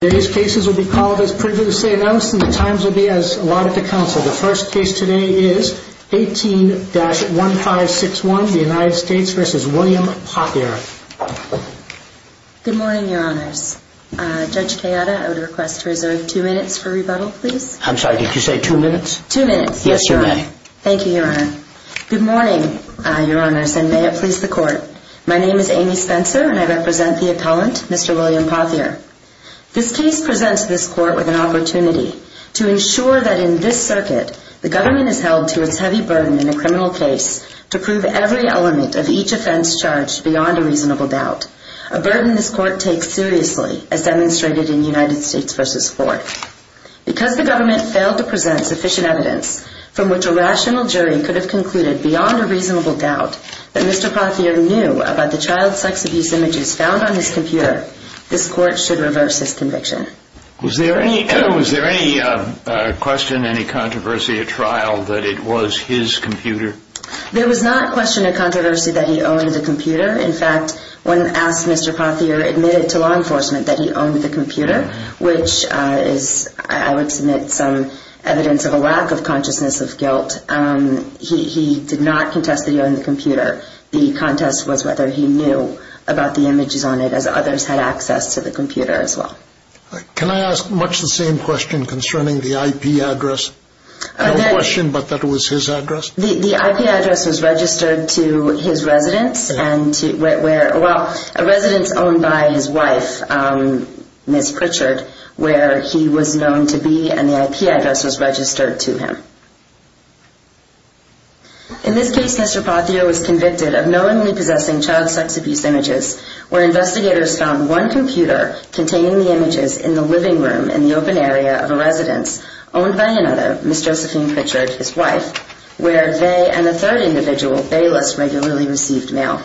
Today's cases will be called as previously announced and the times will be as allotted to counsel. The first case today is 18-1561, the United States v. William Pothier. Good morning, your honors. Judge Kayada, I would request to reserve two minutes for rebuttal, please. I'm sorry, did you say two minutes? Two minutes, yes, your honor. Yes, you may. Thank you, your honor. Good morning, your honors, and may it please the court. My name is Amy Spencer and I represent the appellant, Mr. William Pothier. This case presents this court with an opportunity to ensure that in this circuit, the government has held to its heavy burden in the criminal case to prove every element of each offense charged beyond a reasonable doubt, a burden this court takes seriously, as demonstrated in United States v. Ford. Because the government failed to present sufficient evidence from which a rational jury could have concluded beyond a reasonable doubt that Mr. Pothier knew about the child sex abuse images found on his computer, this court should reverse his conviction. Was there any question, any controversy at trial that it was his computer? There was not a question or controversy that he owned the computer. In fact, when asked, Mr. Pothier admitted to law enforcement that he owned the computer, which is, I would submit, some evidence of a lack of consciousness of guilt. He did not contest that he owned the computer. The contest was whether he knew about the images on it, as others had access to the computer as well. Can I ask much the same question concerning the IP address? No question, but that it was his address? The IP address was registered to his residence. Well, a residence owned by his wife, Ms. Pritchard, where he was known to be, and the IP address was registered to him. In this case, Mr. Pothier was convicted of knowingly possessing child sex abuse images, where investigators found one computer containing the images in the living room in the open area of a residence owned by another, Ms. Josephine Pritchard, his wife, where they and a third individual, Bayless, regularly received mail.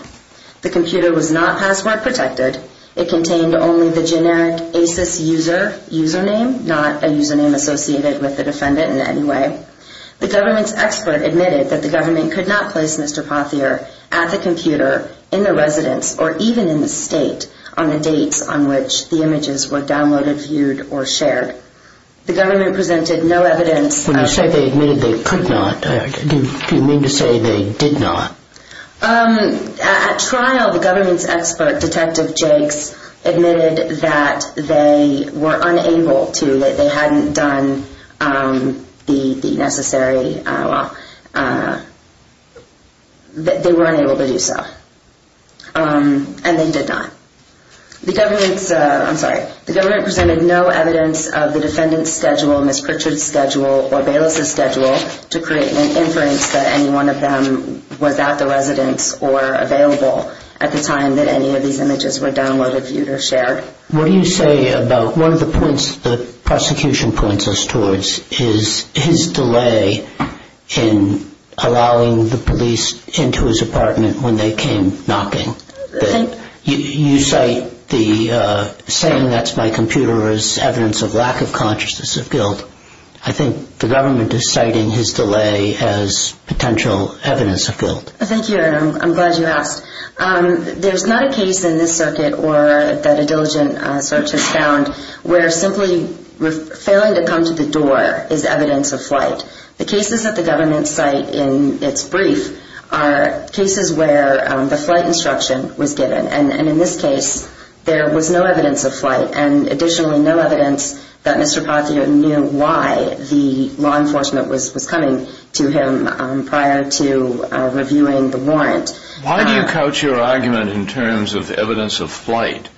The computer was not password protected. It contained only the generic ACES user, username, not a username associated with the defendant in any way. The government's expert admitted that the government could not place Mr. Pothier at the computer, in the residence, or even in the state, on the dates on which the images were downloaded, viewed, or shared. The government presented no evidence. When you say they admitted they could not, do you mean to say they did not? At trial, the government's expert, Detective Jakes, admitted that they were unable to, that they hadn't done the necessary, well, that they were unable to do so, and they did not. The government's, I'm sorry, the government presented no evidence of the defendant's schedule, or Bayless's schedule, to create an inference that any one of them was at the residence, or available at the time that any of these images were downloaded, viewed, or shared. What do you say about one of the points the prosecution points us towards, is his delay in allowing the police into his apartment when they came knocking. You cite the saying, that's my computer, as evidence of lack of consciousness of guilt. I think the government is citing his delay as potential evidence of guilt. Thank you, and I'm glad you asked. There's not a case in this circuit, or that a diligent search has found, where simply failing to come to the door is evidence of flight. The cases that the government cite in its brief are cases where the flight instruction was given, and additionally, no evidence that Mr. Pazio knew why the law enforcement was coming to him, prior to reviewing the warrant. Why do you couch your argument in terms of evidence of flight?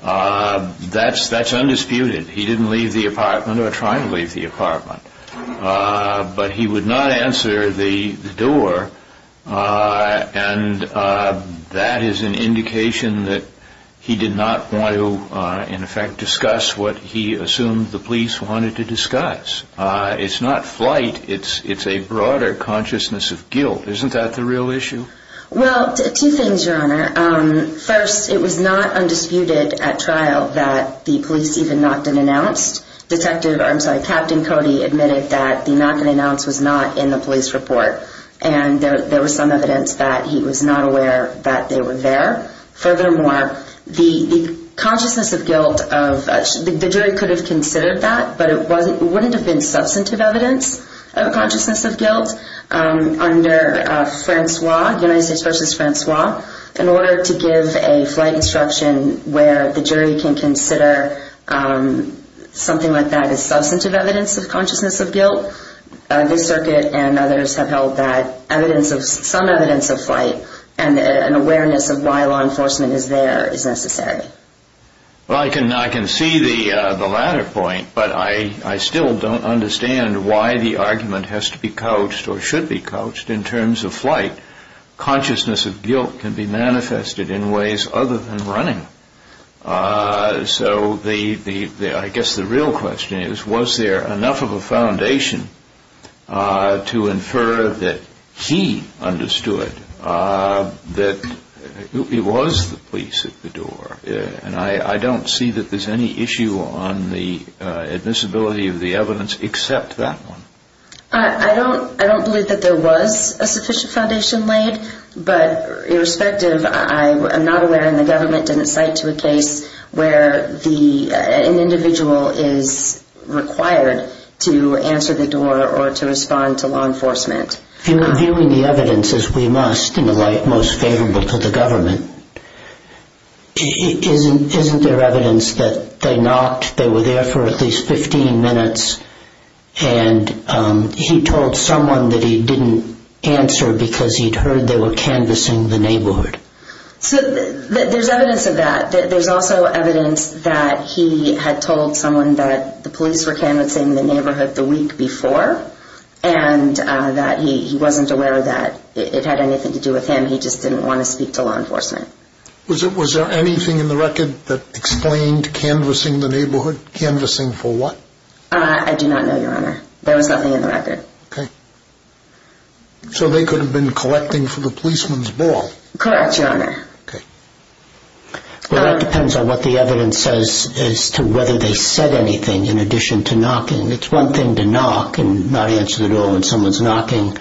That's undisputed. He didn't leave the apartment, or try and leave the apartment. But he would not answer the door, and that is an indication that he did not want to, in effect, discuss what he assumed the police wanted to discuss. It's not flight, it's a broader consciousness of guilt. Isn't that the real issue? Well, two things, Your Honor. First, it was not undisputed at trial that the police even knocked and announced. Detective, I'm sorry, Captain Cody admitted that the knock and announce was not in the police report, and there was some evidence that he was not aware that they were there. Furthermore, the consciousness of guilt of, the jury could have considered that, but it wouldn't have been substantive evidence of consciousness of guilt under Francois, United States v. Francois, in order to give a flight instruction where the jury can consider something like that as substantive evidence of consciousness of guilt. The circuit and others have held that some evidence of flight and an awareness of why law enforcement is there is necessary. Well, I can see the latter point, but I still don't understand why the argument has to be couched or should be couched in terms of flight. Consciousness of guilt can be manifested in ways other than running. So I guess the real question is, was there enough of a foundation to infer that he understood that it was the police at the door? And I don't see that there's any issue on the admissibility of the evidence except that one. I don't believe that there was a sufficient foundation laid, but irrespective, I'm not aware and the government didn't cite to a case where an individual is required to answer the door or to respond to law enforcement. Viewing the evidence as we must in the light most favorable to the government, isn't there evidence that they were there for at least 15 minutes and he told someone that he didn't answer because he'd heard they were canvassing the neighborhood? So there's evidence of that. There's also evidence that he had told someone that the police were canvassing the neighborhood the week before and that he wasn't aware that it had anything to do with him. He just didn't want to speak to law enforcement. Was there anything in the record that explained canvassing the neighborhood? Canvassing for what? I do not know, Your Honor. There was nothing in the record. Okay. So they could have been collecting for the policeman's ball? Correct, Your Honor. Okay. Well, that depends on what the evidence says as to whether they said anything in addition to knocking. It's one thing to knock and not answer the door when someone's knocking,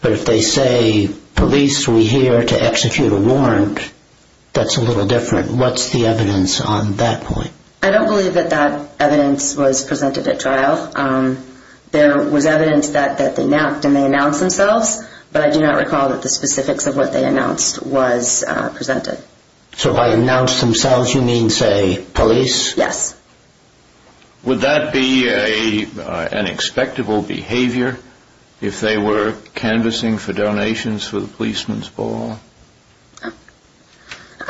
but if they say, police, we're here to execute a warrant, that's a little different. What's the evidence on that point? I don't believe that that evidence was presented at trial. There was evidence that they knocked and they announced themselves, but I do not recall that the specifics of what they announced was presented. So by announced themselves you mean, say, police? Yes. Would that be an expectable behavior if they were canvassing for donations for the policeman's ball?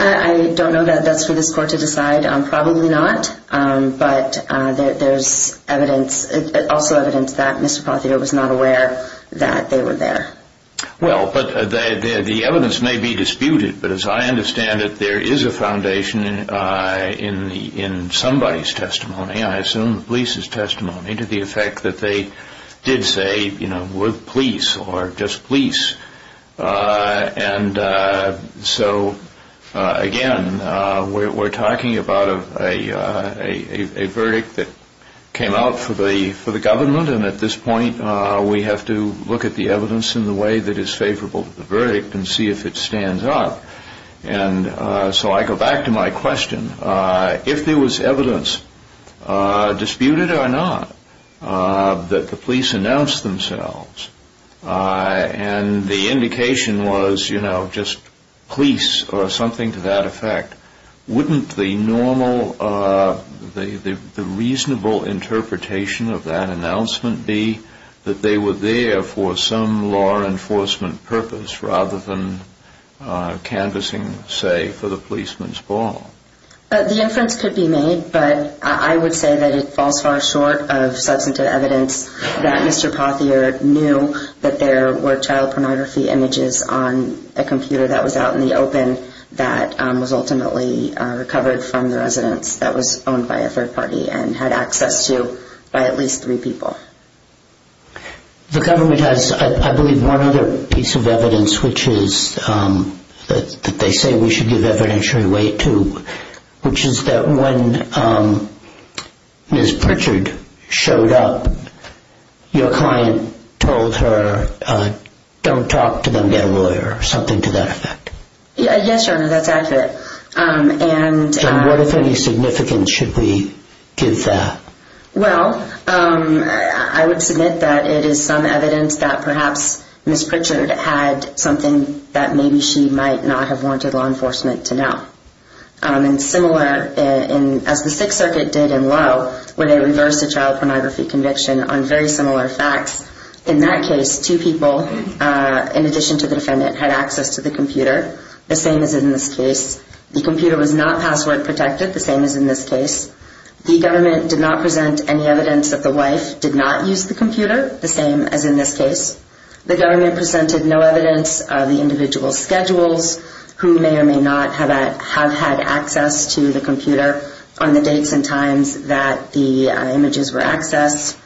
I don't know that that's for this Court to decide. Probably not. But there's evidence, also evidence, that Mr. Pothio was not aware that they were there. Well, the evidence may be disputed, but as I understand it, there is a foundation in somebody's testimony, I assume the police's testimony, to the effect that they did say, you know, we're police or just police. And so, again, we're talking about a verdict that came out for the government, and at this point we have to look at the evidence in the way that is favorable to the verdict and see if it stands up. And so I go back to my question. If there was evidence, disputed or not, that the police announced themselves, and the indication was, you know, just police or something to that effect, wouldn't the normal, the reasonable interpretation of that announcement be that they were there for some law enforcement purpose rather than canvassing, say, for the policeman's ball? The inference could be made, but I would say that it falls far short of substantive evidence that Mr. Pothio knew that there were child pornography images on a computer that was out in the open that was ultimately recovered from the residence that was owned by a third party and had access to by at least three people. The government has, I believe, one other piece of evidence, which is that they say we should give evidentiary weight to, which is that when Ms. Pritchard showed up, your client told her, don't talk to them, get a lawyer, or something to that effect. Yes, Your Honor, that's accurate. And what, if any, significance should we give that? Well, I would submit that it is some evidence that perhaps Ms. Pritchard had something that maybe she might not have wanted law enforcement to know. And similar, as the Sixth Circuit did in Lowe, where they reversed a child pornography conviction on very similar facts, in that case, two people, in addition to the defendant, had access to the computer, the same as in this case. The computer was not password protected, the same as in this case. The government did not present any evidence that the wife did not use the computer, the same as in this case. The government presented no evidence of the individual's schedules, who may or may not have had access to the computer on the dates and times that the images were accessed.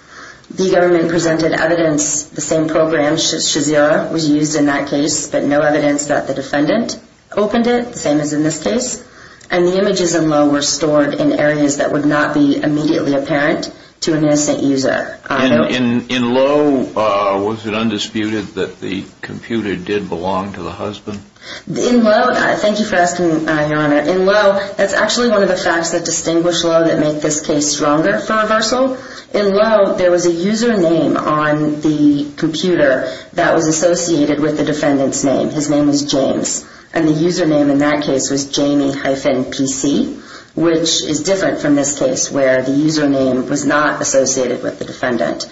The government presented evidence the same program, Shazira, was used in that case, but no evidence that the defendant opened it, the same as in this case. And the images in Lowe were stored in areas that would not be immediately apparent to an innocent user. In Lowe, was it undisputed that the computer did belong to the husband? In Lowe, thank you for asking, Your Honor. In Lowe, that's actually one of the facts that distinguish Lowe that make this case stronger for reversal. In Lowe, there was a username on the computer that was associated with the defendant's name. His name was James, and the username in that case was Jamie-PC, which is different from this case where the username was not associated with the defendant.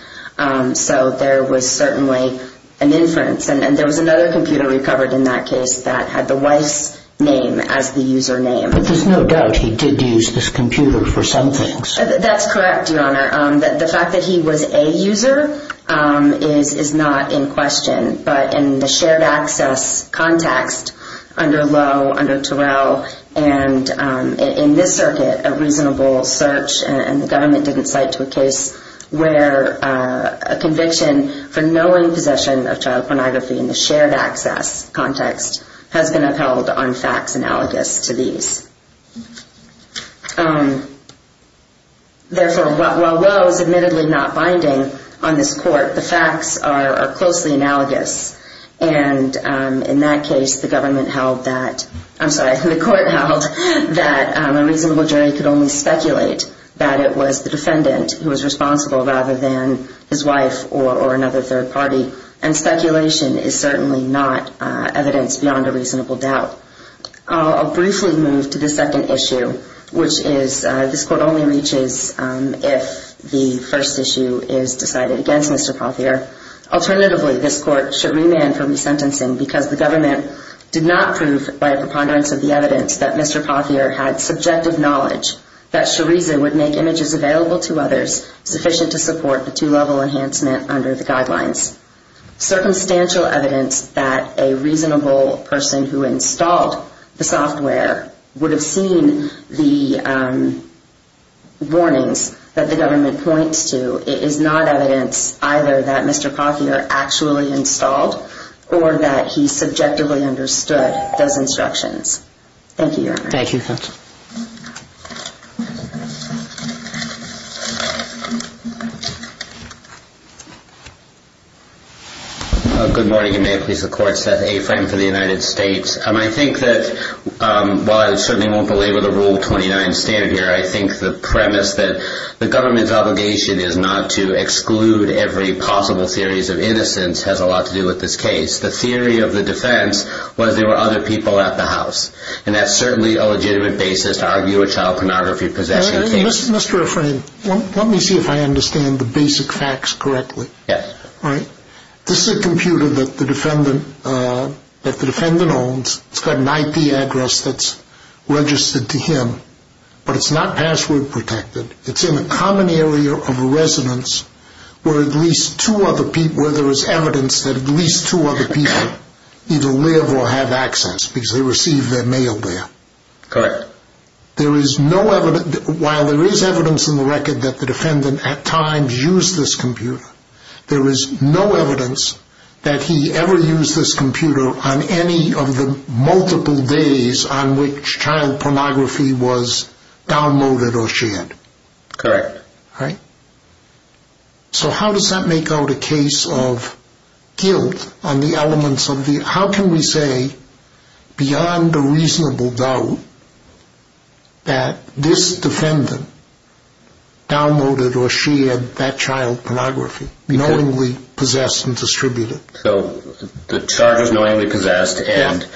So there was certainly an inference, and there was another computer recovered in that case that had the wife's name as the username. But there's no doubt he did use this computer for some things. That's correct, Your Honor. The fact that he was a user is not in question, but in the shared access context under Lowe, under Terrell, and in this circuit, a reasonable search and the government didn't cite to a case where a conviction for knowing possession of child pornography in the shared access context has been upheld on facts analogous to these. Therefore, while Lowe is admittedly not binding on this court, the facts are closely analogous. And in that case, the government held that, I'm sorry, the court held that a reasonable jury could only speculate that it was the defendant who was responsible rather than his wife or another third party. And speculation is certainly not evidence beyond a reasonable doubt. I'll briefly move to the second issue, which is this court only reaches if the first issue is decided against Mr. Pothier. Alternatively, this court should remand for resentencing because the government did not prove by a preponderance of the evidence that Mr. Pothier had subjective knowledge that Shariza would make images available to others sufficient to support the two-level enhancement under the guidelines. Circumstantial evidence that a reasonable person who installed the software would have seen the warnings that the government points to is not evidence either that Mr. Pothier actually installed or that he subjectively understood those instructions. Thank you, Your Honor. Thank you. Good morning. May it please the Court. Seth Afram for the United States. I think that while I certainly won't belabor the Rule 29 standard here, I think the premise that the government's obligation is not to exclude every possible series of innocence has a lot to do with this case. The theory of the defense was there were other people at the house, and that's certainly a legitimate basis to argue a child pornography possession case. Mr. Afram, let me see if I understand the basic facts correctly. Yes. All right. This is a computer that the defendant owns. It's got an IP address that's registered to him, but it's not password protected. It's in a common area of a residence where there is evidence that at least two other people either live or have access because they receive their mail there. Correct. While there is evidence in the record that the defendant at times used this computer, there is no evidence that he ever used this computer on any of the multiple days on which child pornography was downloaded or shared. Correct. All right. So how does that make out a case of guilt on the elements of the – that this defendant downloaded or shared that child pornography, knowingly possessed and distributed? So the child is knowingly possessed, and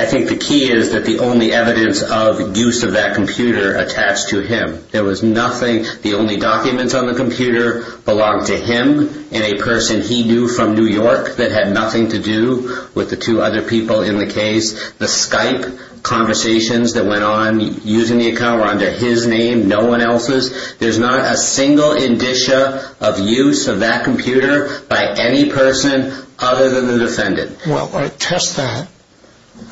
I think the key is that the only evidence of use of that computer attached to him. There was nothing. The only documents on the computer belonged to him and a person he knew from New York that had nothing to do with the two other people in the case. The Skype conversations that went on using the account were under his name, no one else's. There's not a single indicia of use of that computer by any person other than the defendant. Well, test that,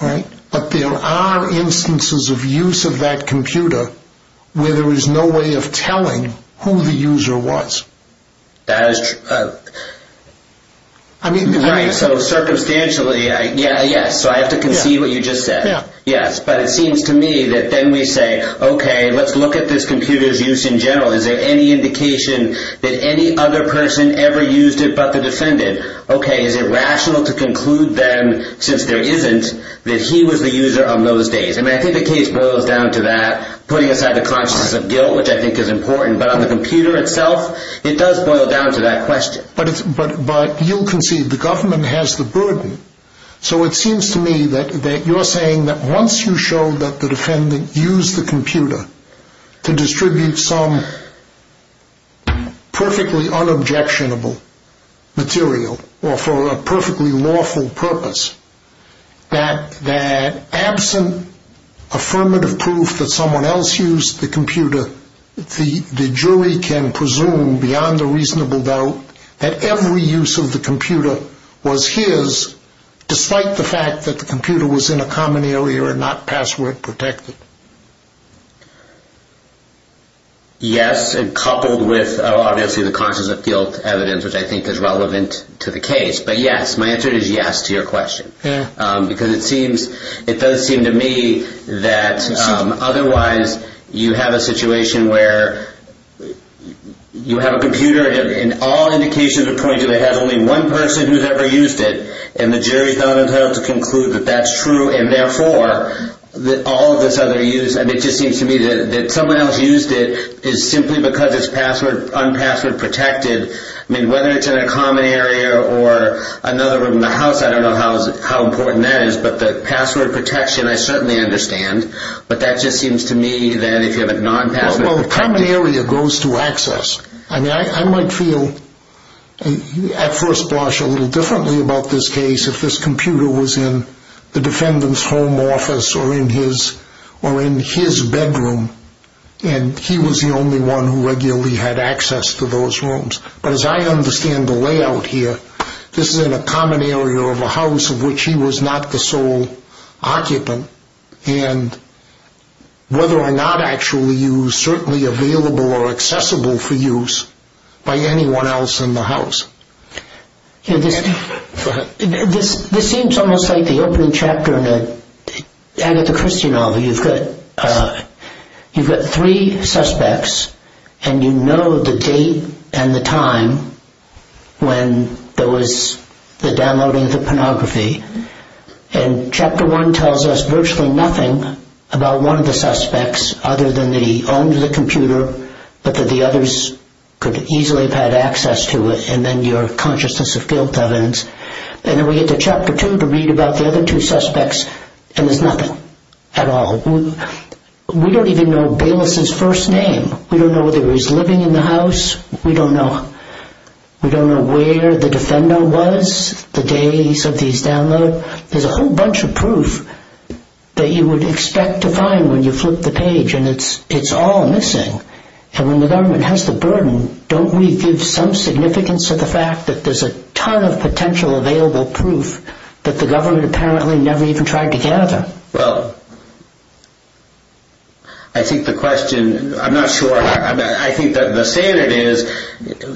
right? But there are instances of use of that computer where there was no way of telling who the user was. That is true. I mean – Right, so circumstantially, yeah, yeah. So I have to concede what you just said. Yeah. Yes, but it seems to me that then we say, okay, let's look at this computer's use in general. Is there any indication that any other person ever used it but the defendant? Okay, is it rational to conclude then, since there isn't, that he was the user on those days? I mean, I think the case boils down to that, putting aside the consciousness of guilt, which I think is important, but on the computer itself, it does boil down to that question. But you'll concede the government has the burden. So it seems to me that you're saying that once you show that the defendant used the computer to distribute some perfectly unobjectionable material or for a perfectly lawful purpose, that absent affirmative proof that someone else used the computer, the jury can presume beyond a reasonable doubt that every use of the computer was his, despite the fact that the computer was in a common area and not password protected. Yes, and coupled with, obviously, the consciousness of guilt evidence, which I think is relevant to the case. But yes, my answer is yes to your question. Because it does seem to me that otherwise you have a situation where you have a computer and all indications are pointing to that it has only one person who's ever used it and the jury's not entitled to conclude that that's true. And therefore, all of this other use, and it just seems to me that someone else used it is simply because it's unpassword protected. I mean, whether it's in a common area or another room in the house, I don't know how important that is. But the password protection, I certainly understand. But that just seems to me that if you have a non-password protected... Well, the common area goes to access. I mean, I might feel at first blush a little differently about this case if this computer was in the defendant's home office or in his bedroom and he was the only one who regularly had access to those rooms. But as I understand the layout here, this is in a common area of a house of which he was not the sole occupant. And whether or not actually used, certainly available or accessible for use by anyone else in the house. This seems almost like the opening chapter in the Agatha Christie novel. You've got three suspects, and you know the date and the time when there was the downloading of the pornography. And Chapter 1 tells us virtually nothing about one of the suspects other than that he owned the computer, but that the others could easily have had access to it. And then your consciousness of guilt evidence. And then we get to Chapter 2 to read about the other two suspects, and there's nothing at all. We don't even know Bayless's first name. We don't know whether he was living in the house. We don't know where the defender was the days of these downloads. There's a whole bunch of proof that you would expect to find when you flip the page, and it's all missing. And when the government has the burden, don't we give some significance to the fact that there's a ton of potential available proof that the government apparently never even tried to gather? Well, I think the question, I'm not sure. I think that the standard is,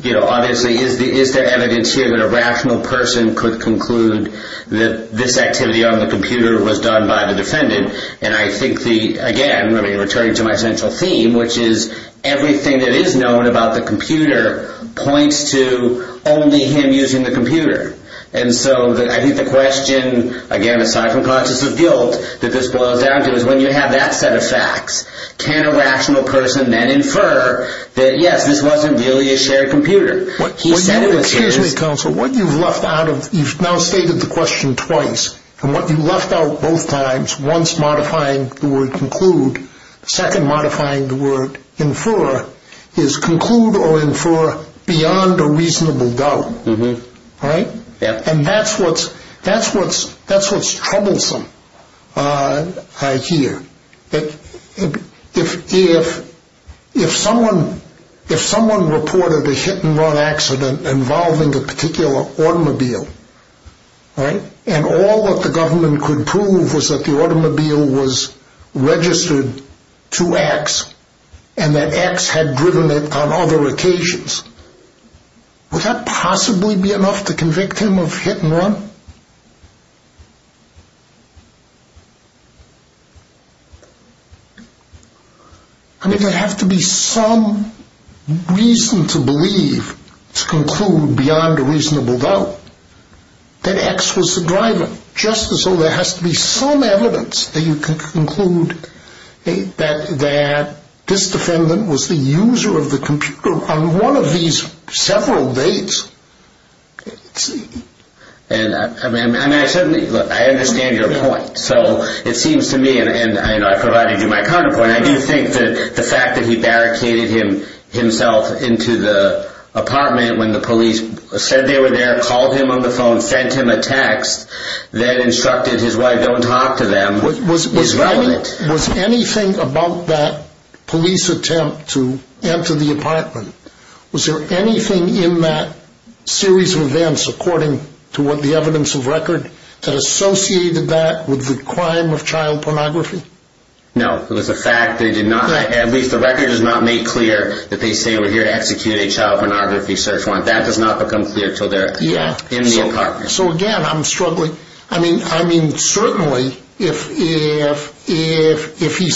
you know, obviously is there evidence here that a rational person could conclude that this activity on the computer was done by the defendant? And I think the, again, returning to my central theme, which is everything that is known about the computer points to only him using the computer. And so I think the question, again, aside from consciousness of guilt, that this boils down to is when you have that set of facts, can a rational person then infer that, yes, this wasn't really a shared computer? What you've left out of, you've now stated the question twice, and what you left out both times, once modifying the word conclude, the second modifying the word infer is conclude or infer beyond a reasonable doubt. And that's what's troublesome, I hear. If someone reported a hit and run accident involving a particular automobile, and all that the government could prove was that the automobile was registered to X and that X had driven it on other occasions, would that possibly be enough to convict him of hit and run? I mean, there'd have to be some reason to believe to conclude beyond a reasonable doubt that X was the driver, just as though there has to be some evidence that you can conclude that this defendant was the user of the computer on one of these several dates. And I understand your point. So it seems to me, and I provided you my counterpoint, I do think that the fact that he barricaded himself into the apartment when the police said they were there, called him on the phone, sent him a text that instructed his wife, don't talk to them, is relevant. Was anything about that police attempt to enter the apartment, was there anything in that series of events, according to the evidence of record, that associated that with the crime of child pornography? No. It was a fact they did not, at least the record does not make clear that they say were here to execute a child pornography search warrant. That does not become clear until they're in the apartment. So again, I'm struggling. I mean, certainly, if he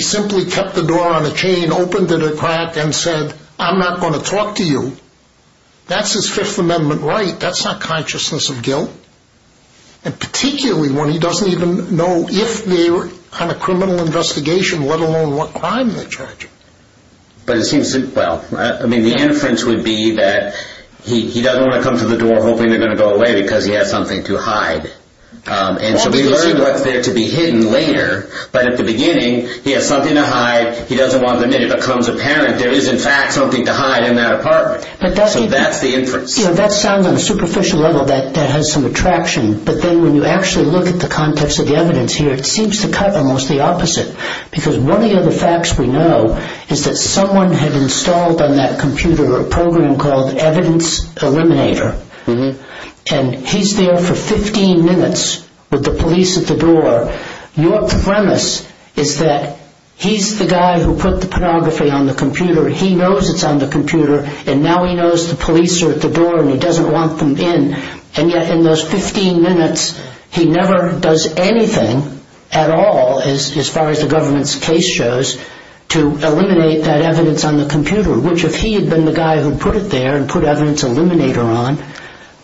simply kept the door on a chain, opened it a crack, and said, I'm not going to talk to you, that's his Fifth Amendment right. That's not consciousness of guilt. And particularly when he doesn't even know if they're on a criminal investigation, let alone what crime they're charging. But it seems, well, I mean, the inference would be that he doesn't want to come to the door hoping they're going to go away because he has something to hide. And so we learn what's there to be hidden later. But at the beginning, he has something to hide. He doesn't want them in. It becomes apparent there is, in fact, something to hide in that apartment. So that's the inference. That sounds on a superficial level that has some attraction. But then when you actually look at the context of the evidence here, it seems to cut almost the opposite. Because one of the other facts we know is that someone had installed on that computer a program called Evidence Eliminator. And he's there for 15 minutes with the police at the door. Your premise is that he's the guy who put the pornography on the computer. He knows it's on the computer. And now he knows the police are at the door, and he doesn't want them in. And yet in those 15 minutes, he never does anything at all, as far as the government's case shows, to eliminate that evidence on the computer, which if he had been the guy who put it there and put Evidence Eliminator on,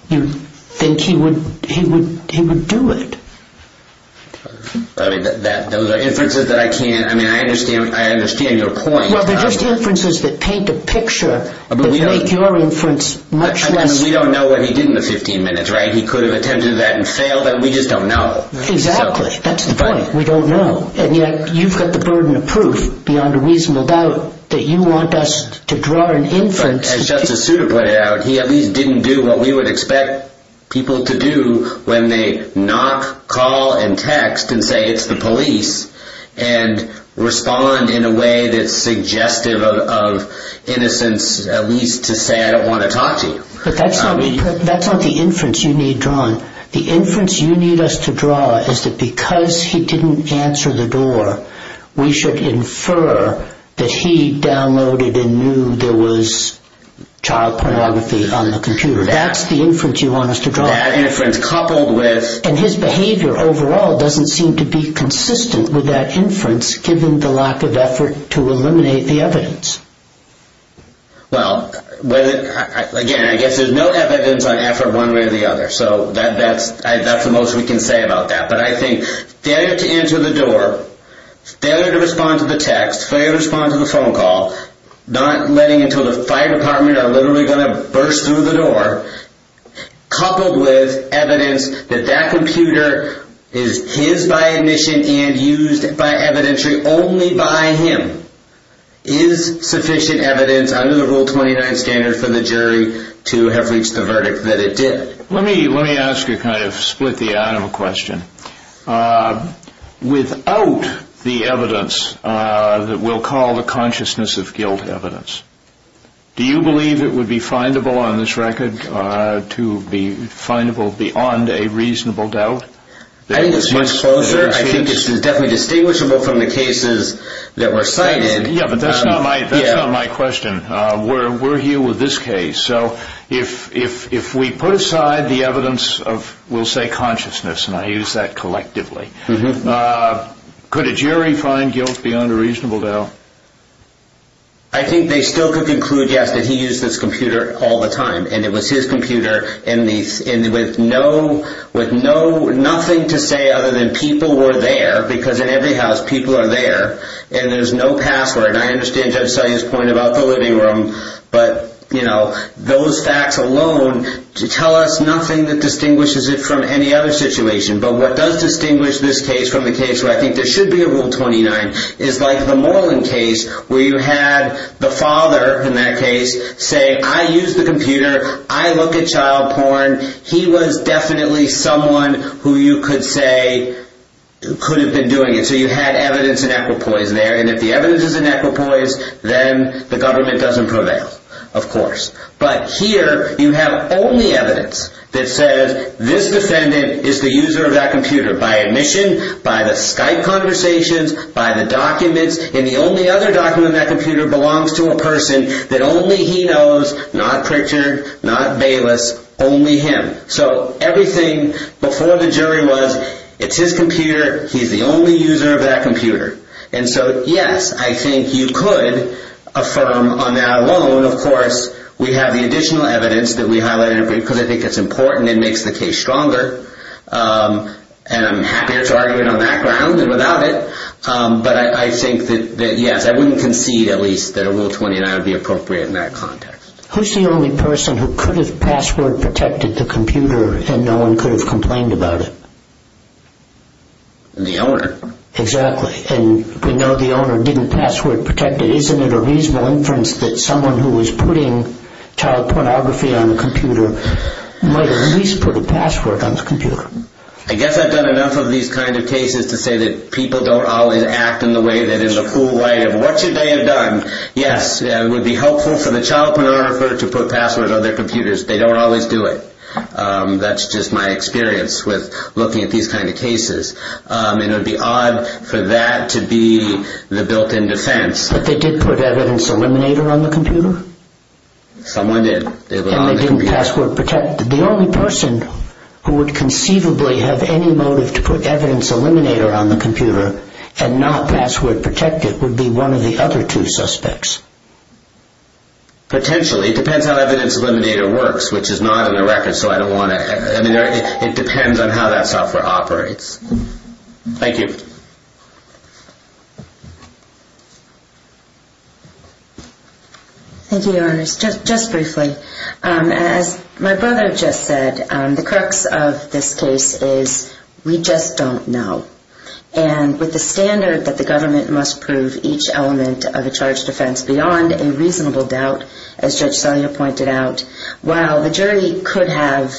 you'd think he would do it. Those are inferences that I can't – I mean, I understand your point. Well, they're just inferences that paint a picture that make your inference much less – I mean, we don't know what he did in the 15 minutes, right? He could have attempted that and failed it. We just don't know. Exactly. That's the point. We don't know. And yet you've got the burden of proof beyond a reasonable doubt that you want us to draw an inference. As Justice Souter put it out, he at least didn't do what we would expect people to do when they knock, call, and text and say it's the police and respond in a way that's suggestive of innocence, at least to say, I don't want to talk to you. But that's not the inference you need drawn. The inference you need us to draw is that because he didn't answer the door, we should infer that he downloaded and knew there was child pornography on the computer. That's the inference you want us to draw. And his behavior overall doesn't seem to be consistent with that inference given the lack of effort to eliminate the evidence. Well, again, I guess there's no evidence on effort one way or the other. So that's the most we can say about that. But I think failure to answer the door, failure to respond to the text, failure to respond to the phone call, not letting until the fire department are literally going to burst through the door, coupled with evidence that that computer is his by admission and used by evidentiary only by him, is sufficient evidence under the Rule 29 standard for the jury to have reached the verdict that it did. Let me ask a kind of split the animal question. Without the evidence that we'll call the consciousness of guilt evidence, do you believe it would be findable on this record to be findable beyond a reasonable doubt? I think it's much closer. I think it's definitely distinguishable from the cases that were cited. Yeah, but that's not my question. We're here with this case. So if we put aside the evidence of, we'll say, consciousness, and I use that collectively, could a jury find guilt beyond a reasonable doubt? I think they still could conclude, yes, that he used this computer all the time, and it was his computer with nothing to say other than people were there, because in every house people are there, and there's no password. I understand Judge Salyer's point about the living room, but those facts alone tell us nothing that distinguishes it from any other situation. But what does distinguish this case from the case where I think there should be a Rule 29 is like the Moreland case where you had the father in that case say, I use the computer, I look at child porn, he was definitely someone who you could say could have been doing it. And so you had evidence in equipoise there, and if the evidence is in equipoise, then the government doesn't prevail, of course. But here you have only evidence that says this defendant is the user of that computer by admission, by the Skype conversations, by the documents, and the only other document in that computer belongs to a person that only he knows, not Pritchard, not Bayless, only him. So everything before the jury was, it's his computer, he's the only user of that computer. And so, yes, I think you could affirm on that alone, of course, we have the additional evidence that we highlighted, because I think it's important, it makes the case stronger, and I'm happier to argue it on that ground than without it. But I think that, yes, I wouldn't concede at least that a Rule 29 would be appropriate in that context. Who's the only person who could have password-protected the computer and no one could have complained about it? The owner. Exactly, and we know the owner didn't password-protect it. Isn't it a reasonable inference that someone who was putting child pornography on a computer might at least put a password on the computer? I guess I've done enough of these kind of cases to say that people don't always act in the way, that in the full light of what should they have done, yes, it would be helpful for the child pornography to put a password on their computers. They don't always do it. That's just my experience with looking at these kind of cases. It would be odd for that to be the built-in defense. But they did put Evidence Eliminator on the computer? Someone did. And they didn't password-protect it. The only person who would conceivably have any motive to put Evidence Eliminator on the computer and not password-protect it would be one of the other two suspects. Potentially. It depends on how Evidence Eliminator works, which is not on the record, so I don't want to... I mean, it depends on how that software operates. Thank you. Thank you, Your Honors. Just briefly, as my brother just said, the crux of this case is we just don't know. And with the standard that the government must prove each element of a charged offense beyond a reasonable doubt, as Judge Selya pointed out, while the jury could have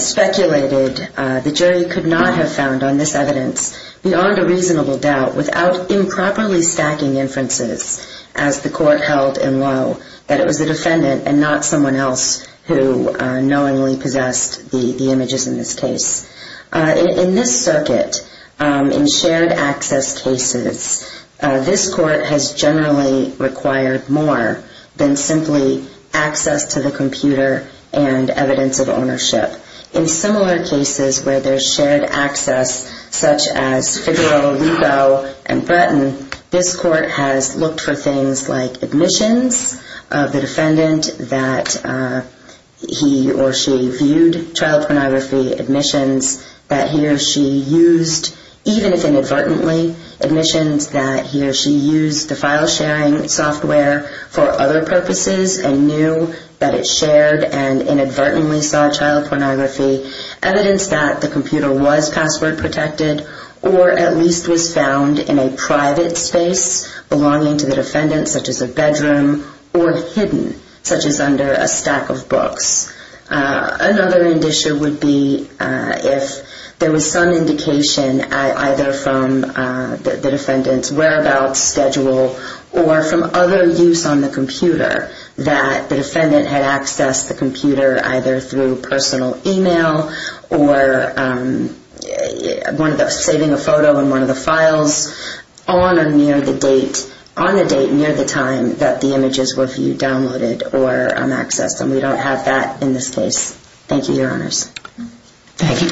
speculated, the jury could not have found on this evidence beyond a reasonable doubt without improperly stacking inferences, as the court held in Lowe, that it was the defendant and not someone else who knowingly possessed the images in this case. In this circuit, in shared-access cases, this court has generally required more than simply access to the computer and evidence of ownership. In similar cases where there's shared access, such as Figueroa, Lico, and Bretton, this court has looked for things like admissions of the defendant that he or she viewed trial pornography, admissions that he or she used, even if inadvertently, admissions that he or she used the file-sharing software for other purposes and knew that it shared and inadvertently saw trial pornography, evidence that the computer was password-protected or at least was found in a private space belonging to the defendant, such as a bedroom, or hidden, such as under a stack of books. Another indicia would be if there was some indication, either from the defendant's whereabouts schedule or from other use on the computer, that the defendant had accessed the computer either through personal email or saving a photo in one of the files on or near the date, on the date near the time that the images were viewed, downloaded, or accessed. And we don't have that in this case. Thank you, Your Honors. Thank you. Thank you, Counsel.